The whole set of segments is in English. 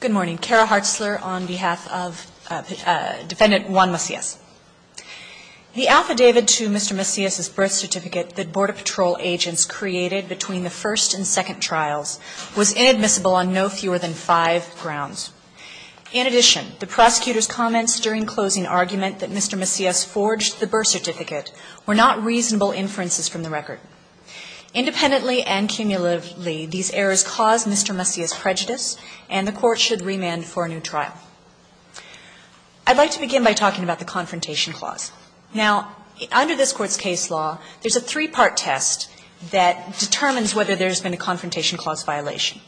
Good morning. Kara Hartzler on behalf of Defendant Juan Macias. The affidavit to Mr. Macias's birth certificate that Border Patrol agents created between the first and second trials was inadmissible on no fewer than five grounds. In addition, the prosecutor's comments during closing argument that Mr. Macias forged the birth certificate were not reasonable inferences from the record. Independently and cumulatively, these errors caused Mr. Macias prejudice, and the Court should remand for a new trial. I'd like to begin by talking about the Confrontation Clause. Now, under this Court's case law, there's a three-part test that determines whether there's been a Confrontation Clause violation.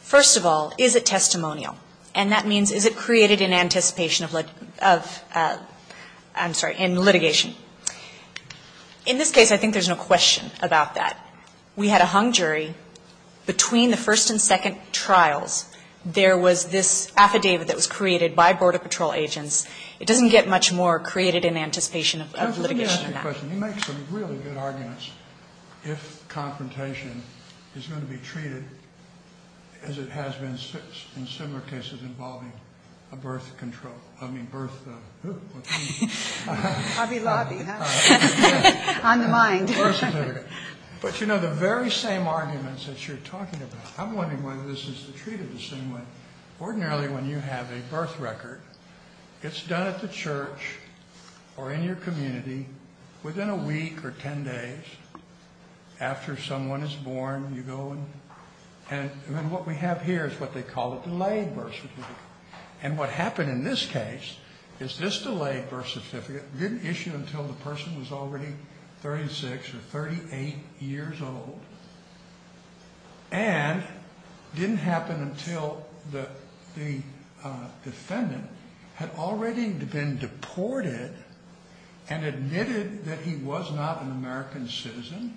First of all, is it testimonial? And that means is it created in anticipation of litigation? In this case, I think there's no question about that. We had a hung jury. Between the first and second trials, there was this affidavit that was created by Border Patrol agents. It doesn't get much more created in anticipation of litigation than that. really good arguments if confrontation is going to be treated as it has been in similar cases involving a birth control, I mean birth, who? Hobby lobby, huh? On the mind. But you know, the very same arguments that you're talking about, I'm wondering whether this is treated the same way. Ordinarily, when you have a birth record, it's done at within a week or 10 days after someone is born, you go and what we have here is what they call a delayed birth certificate. And what happened in this case is this delayed birth certificate didn't issue until the person was already 36 or 38 years old. And it didn't happen until the defendant had already been deported and admitted that he was not an American citizen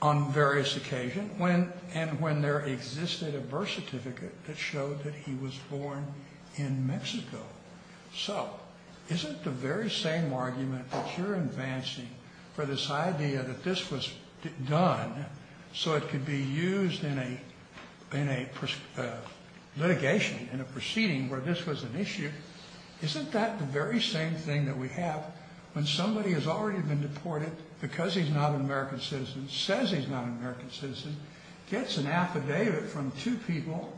on various occasions when and when there existed a birth certificate that showed that he was born in Mexico. So isn't the very same argument that you're in a litigation, in a proceeding where this was an issue, isn't that the very same thing that we have when somebody has already been deported because he's not an American citizen, says he's not an American citizen, gets an affidavit from two people,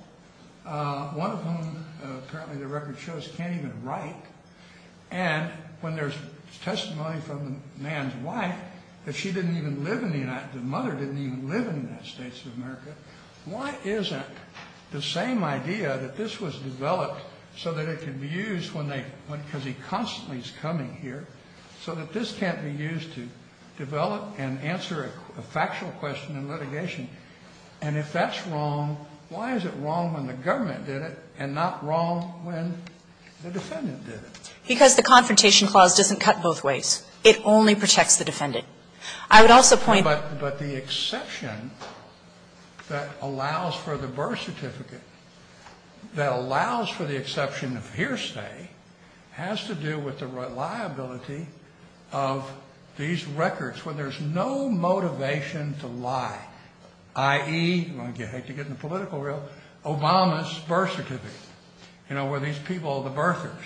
one of whom apparently the record shows can't even write, and when there's testimony from the man's wife that she didn't even live in the United States, the mother didn't even live in the United States of America, why isn't the same idea that this was developed so that it could be used when they, because he constantly is coming here, so that this can't be used to develop and answer a factual question in litigation? And if that's wrong, why is it wrong when the government did it and not wrong when the defendant did it? Because the Confrontation Clause doesn't cut both ways. It only protects the defendant. I would also point out that the exception that allows for the birth certificate that allows for the exception of hearsay has to do with the reliability of these records where there's no motivation to lie, i.e., I hate to get in the political realm, Obama's birth certificate, where these people, the birthers,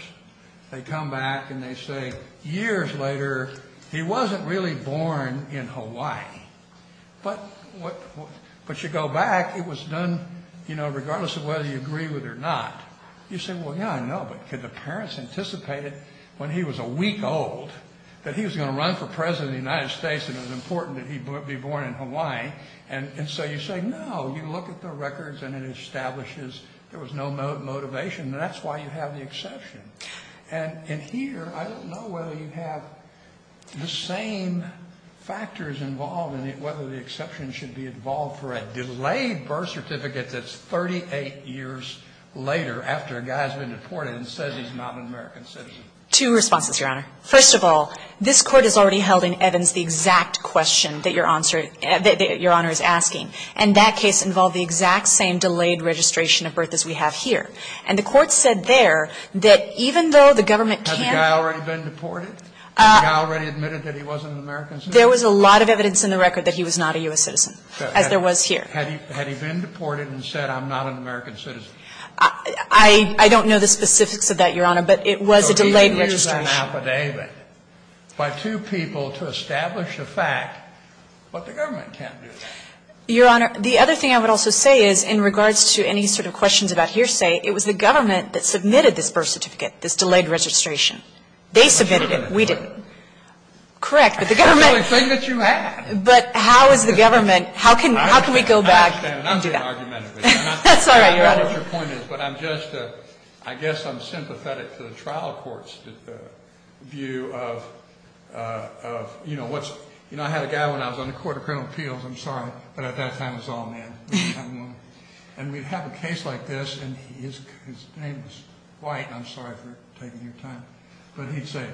they come back and they say, years later, he wasn't really born in Hawaii. But you go back, it was done regardless of whether you agree with it or not. You say, well, yeah, I know, but could the parents have anticipated when he was a week old that he was going to run for President of the United States and it was important that he be born in Hawaii? And so you say, no, you look at the records and it establishes there was no motivation, and that's why you have the exception. And here, I don't know whether you have the same factors involved in whether the exception should be involved for a delayed birth certificate that's 38 years later after a guy has been deported and says he's not an American citizen. Two responses, Your Honor. First of all, this Court has already held in Evans the exact question that Your Honor is asking. And that case involved the exact same delayed registration of birth as we have here. And the Court said there that even though the government can't ---- Had the guy already been deported? Had the guy already admitted that he wasn't an American citizen? There was a lot of evidence in the record that he was not a U.S. citizen, as there was here. Had he been deported and said, I'm not an American citizen? I don't know the specifics of that, Your Honor, but it was a delayed registration. by two people to establish a fact, but the government can't do that. Your Honor, the other thing I would also say is in regards to any sort of questions about hearsay, it was the government that submitted this birth certificate, this delayed registration. They submitted it. We didn't. Correct, but the government ---- That's the only thing that you had. But how is the government ---- I understand. How can we go back and do that? I'm being argumentative here. That's all right, Your Honor. I don't know what your point is, but I'm just, I guess I'm sympathetic to the trial court's view of, you know, I had a guy when I was on the Court of Criminal Appeals, I'm sorry, but at that time it was all men. And we'd have a case like this, and his name was White, and I'm sorry for taking your time, but he'd say,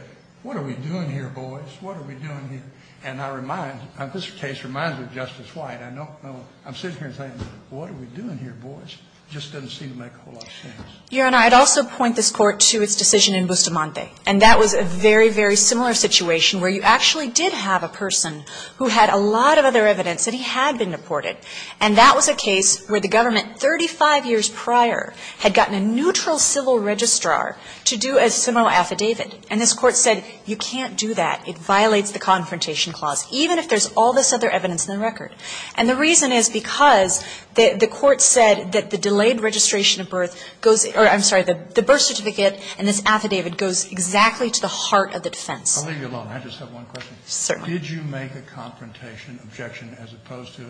what are we doing here, boys? What are we doing here? And I remind, this case reminds me of Justice White. I don't know. I'm sitting here saying, what are we doing here, boys? It just doesn't seem to make a whole lot of sense. Your Honor, I'd also point this Court to its decision in Bustamante. And that was a very, very similar situation where you actually did have a person who had a lot of other evidence that he had been deported. And that was a case where the government, 35 years prior, had gotten a neutral civil registrar to do a similar affidavit. And this Court said, you can't do that. It violates the Confrontation Clause, even if there's all this other evidence in the record. And the reason is because the Court said that the delayed registration of birth goes, or I'm sorry, the birth certificate and this affidavit goes exactly to the heart of the defense. I'll leave you alone. I just have one question. Certainly. Did you make a Confrontation Objection as opposed to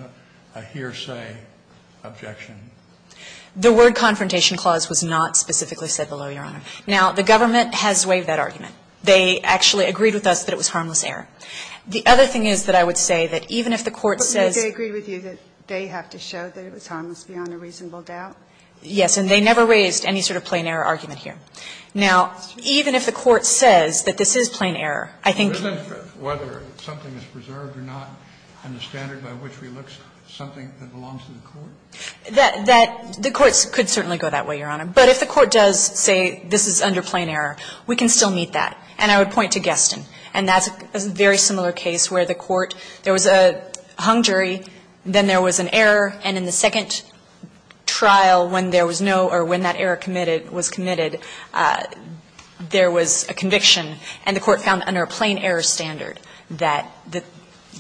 a hearsay objection? The word Confrontation Clause was not specifically said below, Your Honor. Now, the government has waived that argument. They actually agreed with us that it was harmless error. The other thing is that I would say that even if the Court says they have to show that it was harmless beyond a reasonable doubt. Yes. And they never raised any sort of plain error argument here. Now, even if the Court says that this is plain error, I think. Isn't it whether something is preserved or not in the standard by which we look, something that belongs to the Court? That the Court could certainly go that way, Your Honor. But if the Court does say this is under plain error, we can still meet that. And I would point to Geston. And that's a very similar case where the Court, there was a hung jury, then there was an error, and in the second trial when there was no or when that error was committed, there was a conviction, and the Court found under a plain error standard that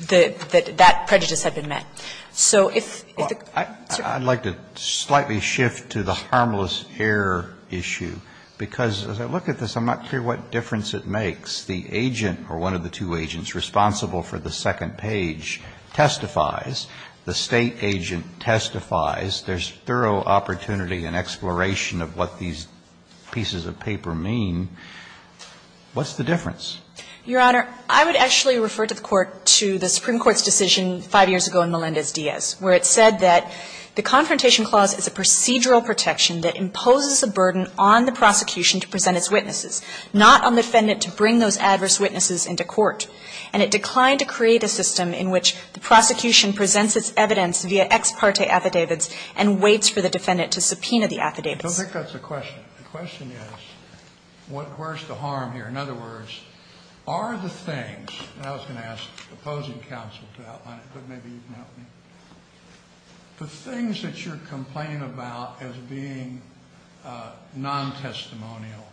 that prejudice had been met. So if the Court said that. I'd like to slightly shift to the harmless error issue, because as I look at this, I'm not clear what difference it makes. The agent or one of the two agents responsible for the second page testifies. The State agent testifies. There's thorough opportunity and exploration of what these pieces of paper mean. What's the difference? Your Honor, I would actually refer to the Court, to the Supreme Court's decision 5 years ago in Melendez-Diaz, where it said that the Confrontation Clause is a procedural protection that imposes a burden on the prosecution to present its witnesses, not on the defendant to bring those adverse witnesses into court. And it declined to create a system in which the prosecution presents its evidence via ex parte affidavits and waits for the defendant to subpoena the affidavits. Scalia. I don't think that's the question. The question is where's the harm here? In other words, are the things, and I was going to ask the opposing counsel to outline it, but maybe you can help me. The things that you're complaining about as being non-testimonial,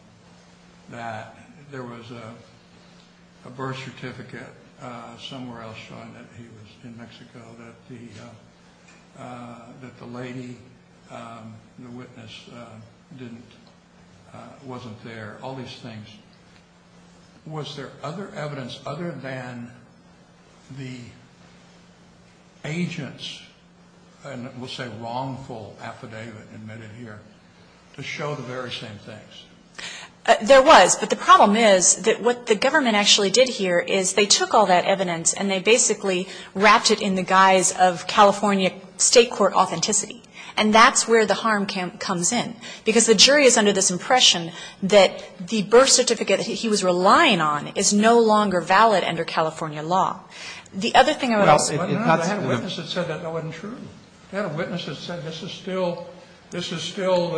that there was a birth certificate somewhere else showing that he was in Mexico, that the lady, the witness, wasn't there, all these things. Was there other evidence other than the agents, and we'll say wrongful affidavit admitted here, to show the very same things? There was. But the problem is that what the government actually did here is they took all that evidence and they basically wrapped it in the guise of California State court authenticity. And that's where the harm comes in, because the jury is under this impression that the birth certificate he was relying on is no longer valid under California law. The other thing I would ask is if that's true. I had a witness that said that wasn't true. I had a witness that said this is still, this is still,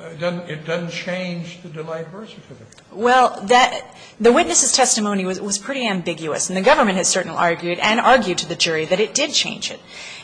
it doesn't change the Delight birth certificate. Well, the witness's testimony was pretty ambiguous, and the government has certainly argued, and argued to the jury, that it did change it.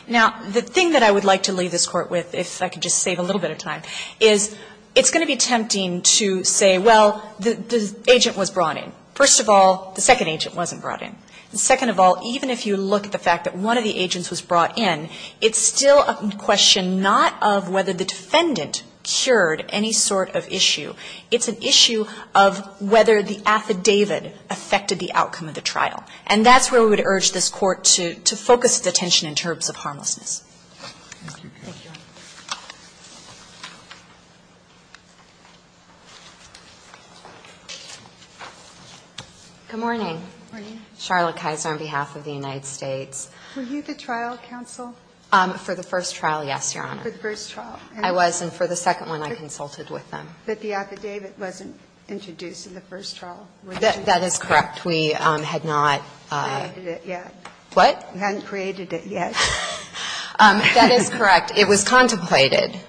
Now, the thing that I would like to leave this Court with, if I could just save a little bit of time, is it's going to be tempting to say, well, the agent was brought in. First of all, the second agent wasn't brought in. And second of all, even if you look at the fact that one of the agents was brought in, it's still a question not of whether the defendant cured any sort of issue. It's an issue of whether the affidavit affected the outcome of the trial. And that's where we would urge this Court to focus its attention in terms of harmlessness. Thank you. Good morning. Good morning. Charlotte Kaiser on behalf of the United States. Were you the trial counsel? For the first trial, yes, Your Honor. For the first trial. I was, and for the second one, I consulted with them. But the affidavit wasn't introduced in the first trial, was it? That is correct. We had not. We hadn't created it yet. What? We hadn't created it yet. That is correct. It was contemplated in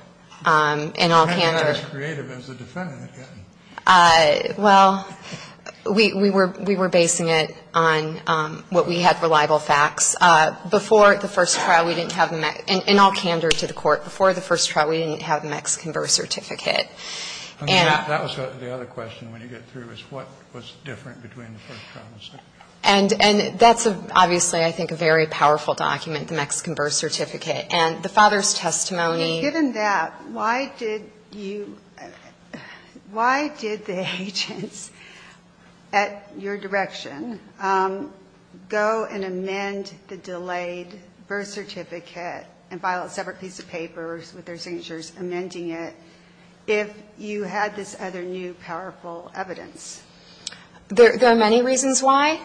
all candor. We hadn't been as creative as the defendant had been. Well, we were basing it on what we had reliable facts. Before the first trial, we didn't have the MEC. In all candor to the Court, before the first trial, we didn't have the MEC's converse certificate. That was the other question when you get through, is what was different between the first trial and the second trial. And that's obviously, I think, a very powerful document, the MEC's converse certificate. And the father's testimony. Given that, why did you why did the agents at your direction go and amend the delayed birth certificate and file a separate piece of paper with their signatures amending it if you had this other new powerful evidence? There are many reasons why.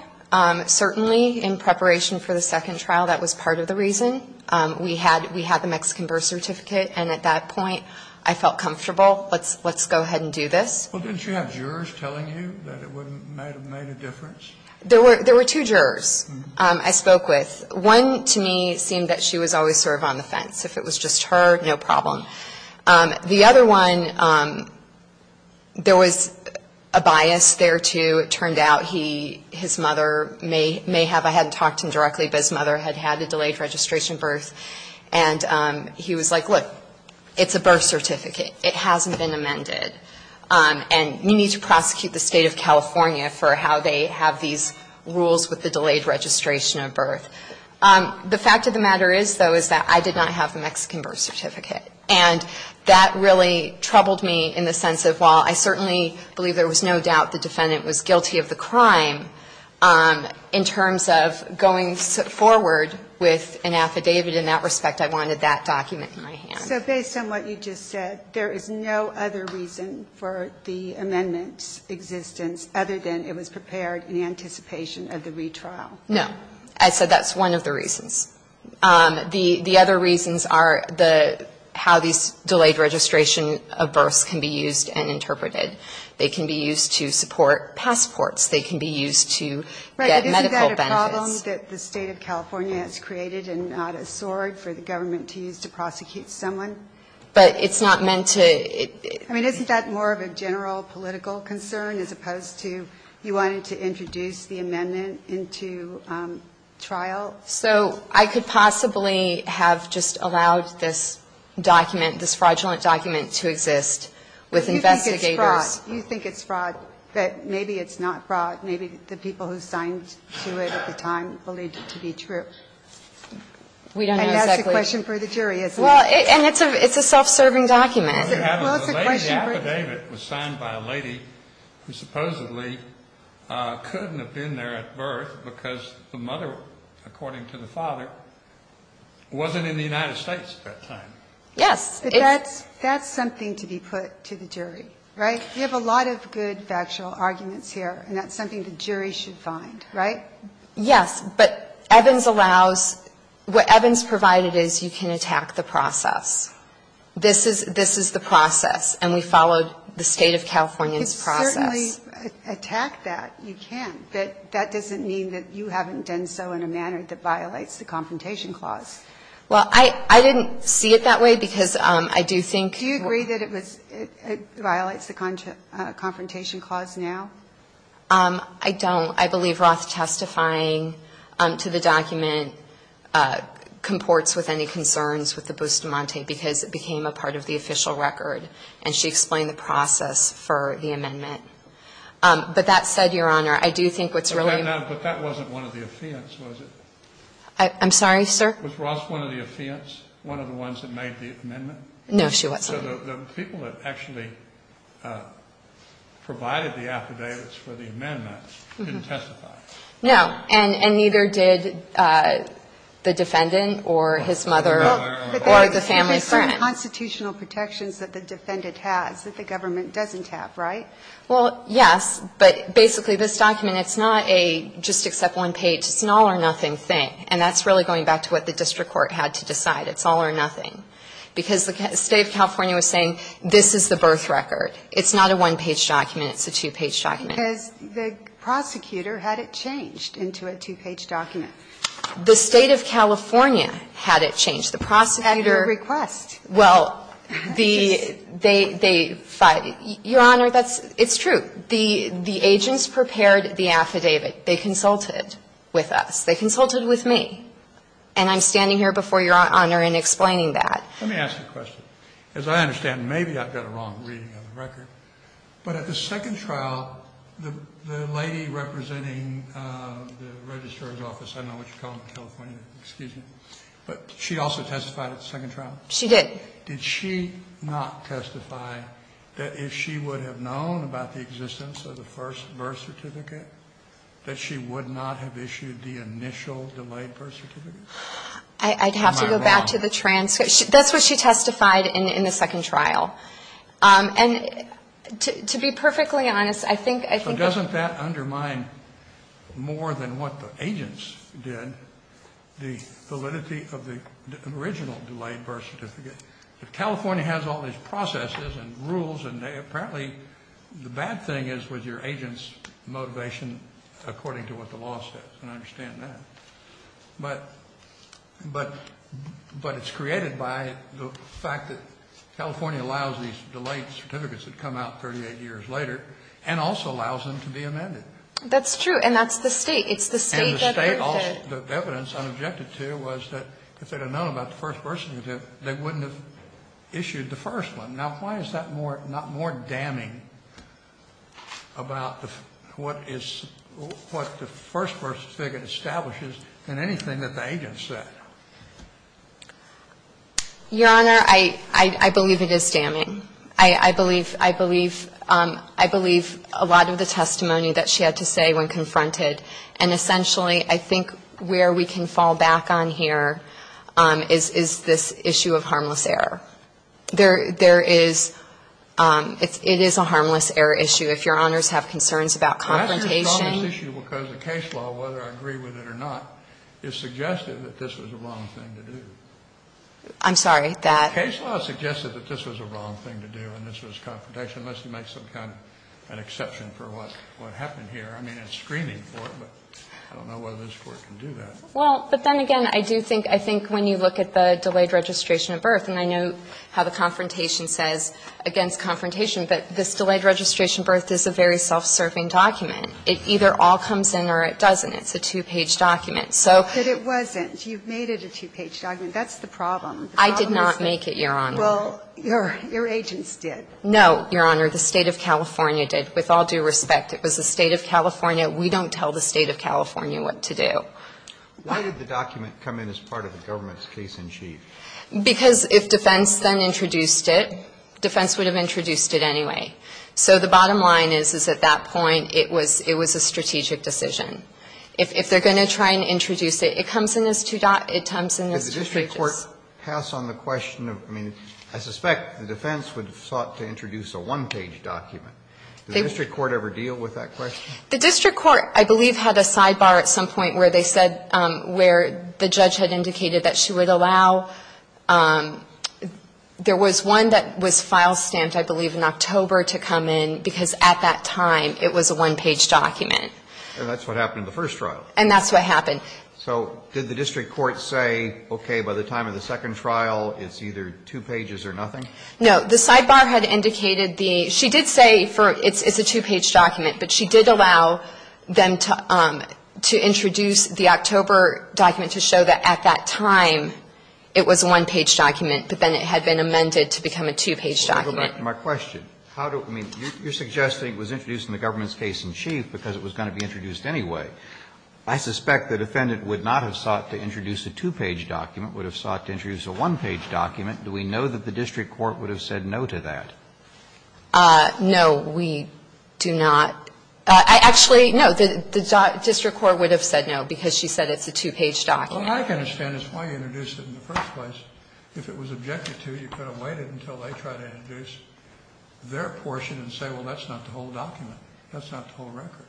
Certainly, in preparation for the second trial, that was part of the reason. We had the MEC's converse certificate. And at that point, I felt comfortable. Let's go ahead and do this. Well, didn't you have jurors telling you that it would have made a difference? There were two jurors I spoke with. One, to me, seemed that she was always sort of on the fence. If it was just her, no problem. The other one, there was a bias there, too. It turned out his mother may have, I hadn't talked to him directly, but his mother had had a delayed registration birth. And he was like, look, it's a birth certificate. It hasn't been amended. And we need to prosecute the State of California for how they have these rules with the delayed registration of birth. The fact of the matter is, though, is that I did not have the Mexican birth certificate. And that really troubled me in the sense of while I certainly believe there was no doubt the defendant was guilty of the crime, in terms of going forward with an affidavit in that respect, I wanted that document in my hand. So based on what you just said, there is no other reason for the amendment's existence other than it was prepared in anticipation of the retrial? No. I said that's one of the reasons. The other reasons are how these delayed registration of births can be used and interpreted. They can be used to support passports. They can be used to get medical benefits. Right, but isn't that a problem that the State of California has created and not a sword for the government to use to prosecute someone? But it's not meant to – I mean, isn't that more of a general political concern as opposed to you wanted to introduce the amendment into trial? So I could possibly have just allowed this document, this fraudulent document But you think it's fraud. You think it's fraud. But maybe it's not fraud. Maybe the people who signed to it at the time believed it to be true. We don't know exactly. And that's the question for the jury, isn't it? Well, and it's a self-serving document. The lady's affidavit was signed by a lady who supposedly couldn't have been there at birth because the mother, according to the father, wasn't in the United States at that time. Yes. But that's something to be put to the jury, right? We have a lot of good factual arguments here, and that's something the jury should find, right? Yes, but Evans allows – what Evans provided is you can attack the process. This is the process, and we followed the State of California's process. You can certainly attack that. You can. But that doesn't mean that you haven't done so in a manner that violates the Confrontation Clause. Well, I didn't see it that way because I do think – Do you agree that it violates the Confrontation Clause now? I don't. I believe Roth testifying to the document comports with any concerns with the Bustamante because it became a part of the official record, and she explained the process for the amendment. But that said, Your Honor, I do think what's really – But that wasn't one of the affidavits, was it? I'm sorry, sir? Was Roth one of the affidavits, one of the ones that made the amendment? No, she wasn't. So the people that actually provided the affidavits for the amendment didn't testify? No. And neither did the defendant or his mother or the family friend. But there's some constitutional protections that the defendant has that the government doesn't have, right? Well, yes. But basically, this document, it's not a just-accept-one-page, it's an all-or-nothing thing. And that's really going back to what the district court had to decide. It's all-or-nothing. Because the State of California was saying this is the birth record. It's not a one-page document. It's a two-page document. Because the prosecutor had it changed into a two-page document. The State of California had it changed. The prosecutor – That's a request. Well, the – they – Your Honor, that's – it's true. The agents prepared the affidavit. They consulted with us. They consulted with me. And I'm standing here before Your Honor and explaining that. Let me ask you a question. As I understand, maybe I've got a wrong reading of the record. But at the second trial, the lady representing the registrar's office – I don't know what you call them in California. Excuse me. But she also testified at the second trial? She did. Did she not testify that if she would have known about the existence of the first birth certificate, that she would not have issued the initial delayed birth certificate? I'd have to go back to the transcript. That's what she testified in the second trial. And to be perfectly honest, I think – So doesn't that undermine more than what the agents did the validity of the original delayed birth certificate? California has all these processes and rules, and apparently the bad thing is with your agents' motivation according to what the law says. And I understand that. But it's created by the fact that California allows these delayed certificates that come out 38 years later and also allows them to be amended. That's true. And that's the State. It's the State that birthed it. And the evidence I objected to was that if they'd have known about the first birth certificate, they wouldn't have issued the first one. Now why is that not more damning about what the first birth certificate establishes than anything that the agents said? Your Honor, I believe it is damning. I believe a lot of the testimony that she had to say when confronted, and essentially I think where we can fall back on here is this issue of harmless error. There is – it is a harmless error issue. If Your Honors have concerns about confrontation – This is a harmless issue because the case law, whether I agree with it or not, has suggested that this was the wrong thing to do. I'm sorry. The case law suggested that this was the wrong thing to do and this was confrontation unless you make some kind of an exception for what happened here. I mean, it's screening for it, but I don't know whether this Court can do that. Well, but then again, I do think when you look at the delayed registration of birth, and I know how the confrontation says against confrontation, but this delayed registration birth is a very self-serving document. It either all comes in or it doesn't. It's a two-page document. So – But it wasn't. You made it a two-page document. That's the problem. I did not make it, Your Honor. Well, your agents did. No, Your Honor. The State of California did. With all due respect, it was the State of California. We don't tell the State of California what to do. Why did the document come in as part of the government's case-in-chief? Because if defense then introduced it, defense would have introduced it anyway. So the bottom line is, is at that point, it was a strategic decision. If they're going to try and introduce it, it comes in as two – it comes in as two pages. Did the district court pass on the question of – I mean, I suspect the defense would have sought to introduce a one-page document. Did the district court ever deal with that question? The district court, I believe, had a sidebar at some point where they said – where the judge had indicated that she would allow – there was one that was file-stamped, I believe, in October to come in, because at that time, it was a one-page document. And that's what happened in the first trial. And that's what happened. So did the district court say, okay, by the time of the second trial, it's either two pages or nothing? No. The sidebar had indicated the – she did say for – it's a two-page document, but she did allow them to introduce the October document to show that at that time it was a one-page document, but then it had been amended to become a two-page document. Kennedy, you're suggesting it was introduced in the government's case in chief because it was going to be introduced anyway. I suspect the defendant would not have sought to introduce a two-page document, would have sought to introduce a one-page document. Do we know that the district court would have said no to that? No, we do not. Actually, no, the district court would have said no because she said it's a two-page document. What I can understand is why you introduced it in the first place. If it was objected to, you could have waited until they tried to introduce their portion and say, well, that's not the whole document. That's not the whole record.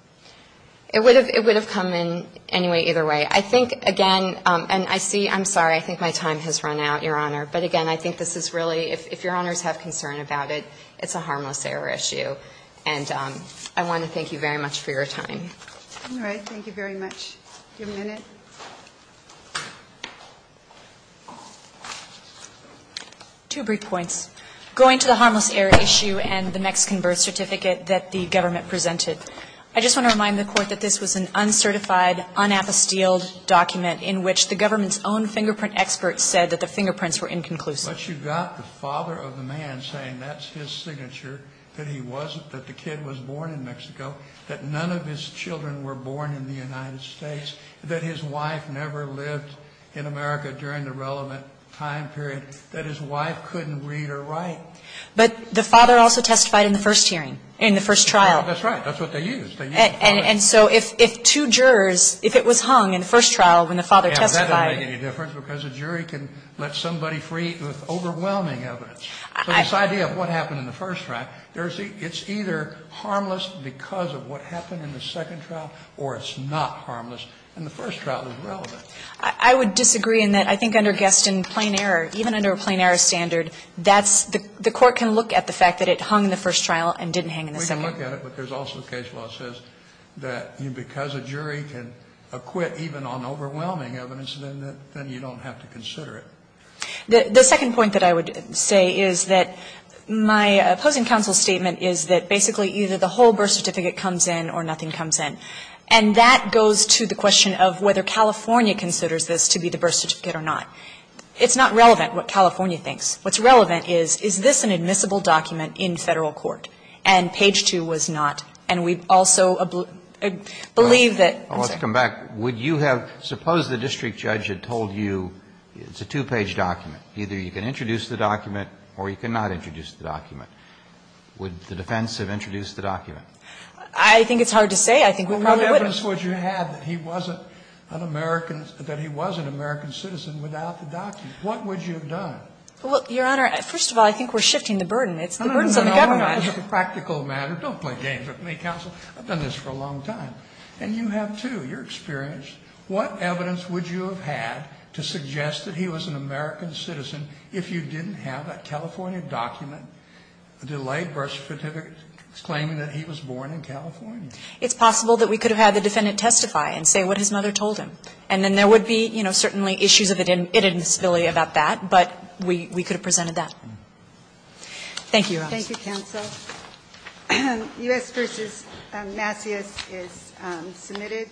It would have come in anyway, either way. I think, again, and I see – I'm sorry. I think my time has run out, Your Honor. But, again, I think this is really – if Your Honors have concern about it, it's a harmless error issue. And I want to thank you very much for your time. All right. Thank you very much. Your minute. Two brief points. Going to the harmless error issue and the Mexican birth certificate that the government presented, I just want to remind the Court that this was an uncertified, unapostilled document in which the government's own fingerprint experts said that the fingerprints were inconclusive. But you got the father of the man saying that's his signature, that he wasn't, that the kid was born in Mexico, that none of his children were born in the United States, that his wife never lived in America during the relevant time period, that his wife couldn't read or write. But the father also testified in the first hearing, in the first trial. That's right. That's what they used. They used the father. And so if two jurors – if it was hung in the first trial when the father testified – That doesn't make any difference because a jury can let somebody free with overwhelming evidence. So this idea of what happened in the first trial, there's – it's either harmless because of what happened in the second trial or it's not harmless and the first trial is relevant. I would disagree in that I think under Gaston, plain error, even under a plain error standard, that's – the Court can look at the fact that it hung in the first trial and didn't hang in the second. We can look at it, but there's also case law that says that because a jury can acquit even on overwhelming evidence, then you don't have to consider it. The second point that I would say is that my opposing counsel's statement is that basically either the whole birth certificate comes in or nothing comes in. And that goes to the question of whether California considers this to be the birth certificate or not. It's not relevant what California thinks. What's relevant is, is this an admissible document in Federal court? And page 2 was not. And we also believe that – Let's come back. Would you have – suppose the district judge had told you it's a two-page document. Either you can introduce the document or you cannot introduce the document. Would the defense have introduced the document? I think it's hard to say. I think we probably wouldn't. Well, what evidence would you have that he wasn't an American – that he was an American citizen without the document? What would you have done? Well, Your Honor, first of all, I think we're shifting the burden. It's the burdens on the government. No, no, no. This is a practical matter. Don't play games with me, counsel. I've done this for a long time. And you have, too. You're experienced. What evidence would you have had to suggest that he was an American citizen if you didn't have a California document, a delayed birth certificate, claiming that he was born in California? It's possible that we could have had the defendant testify and say what his mother told him. And then there would be, you know, certainly issues of identity and civility about that. But we could have presented that. Thank you, Your Honor. Thank you, counsel. U.S. v. Macias is submitted.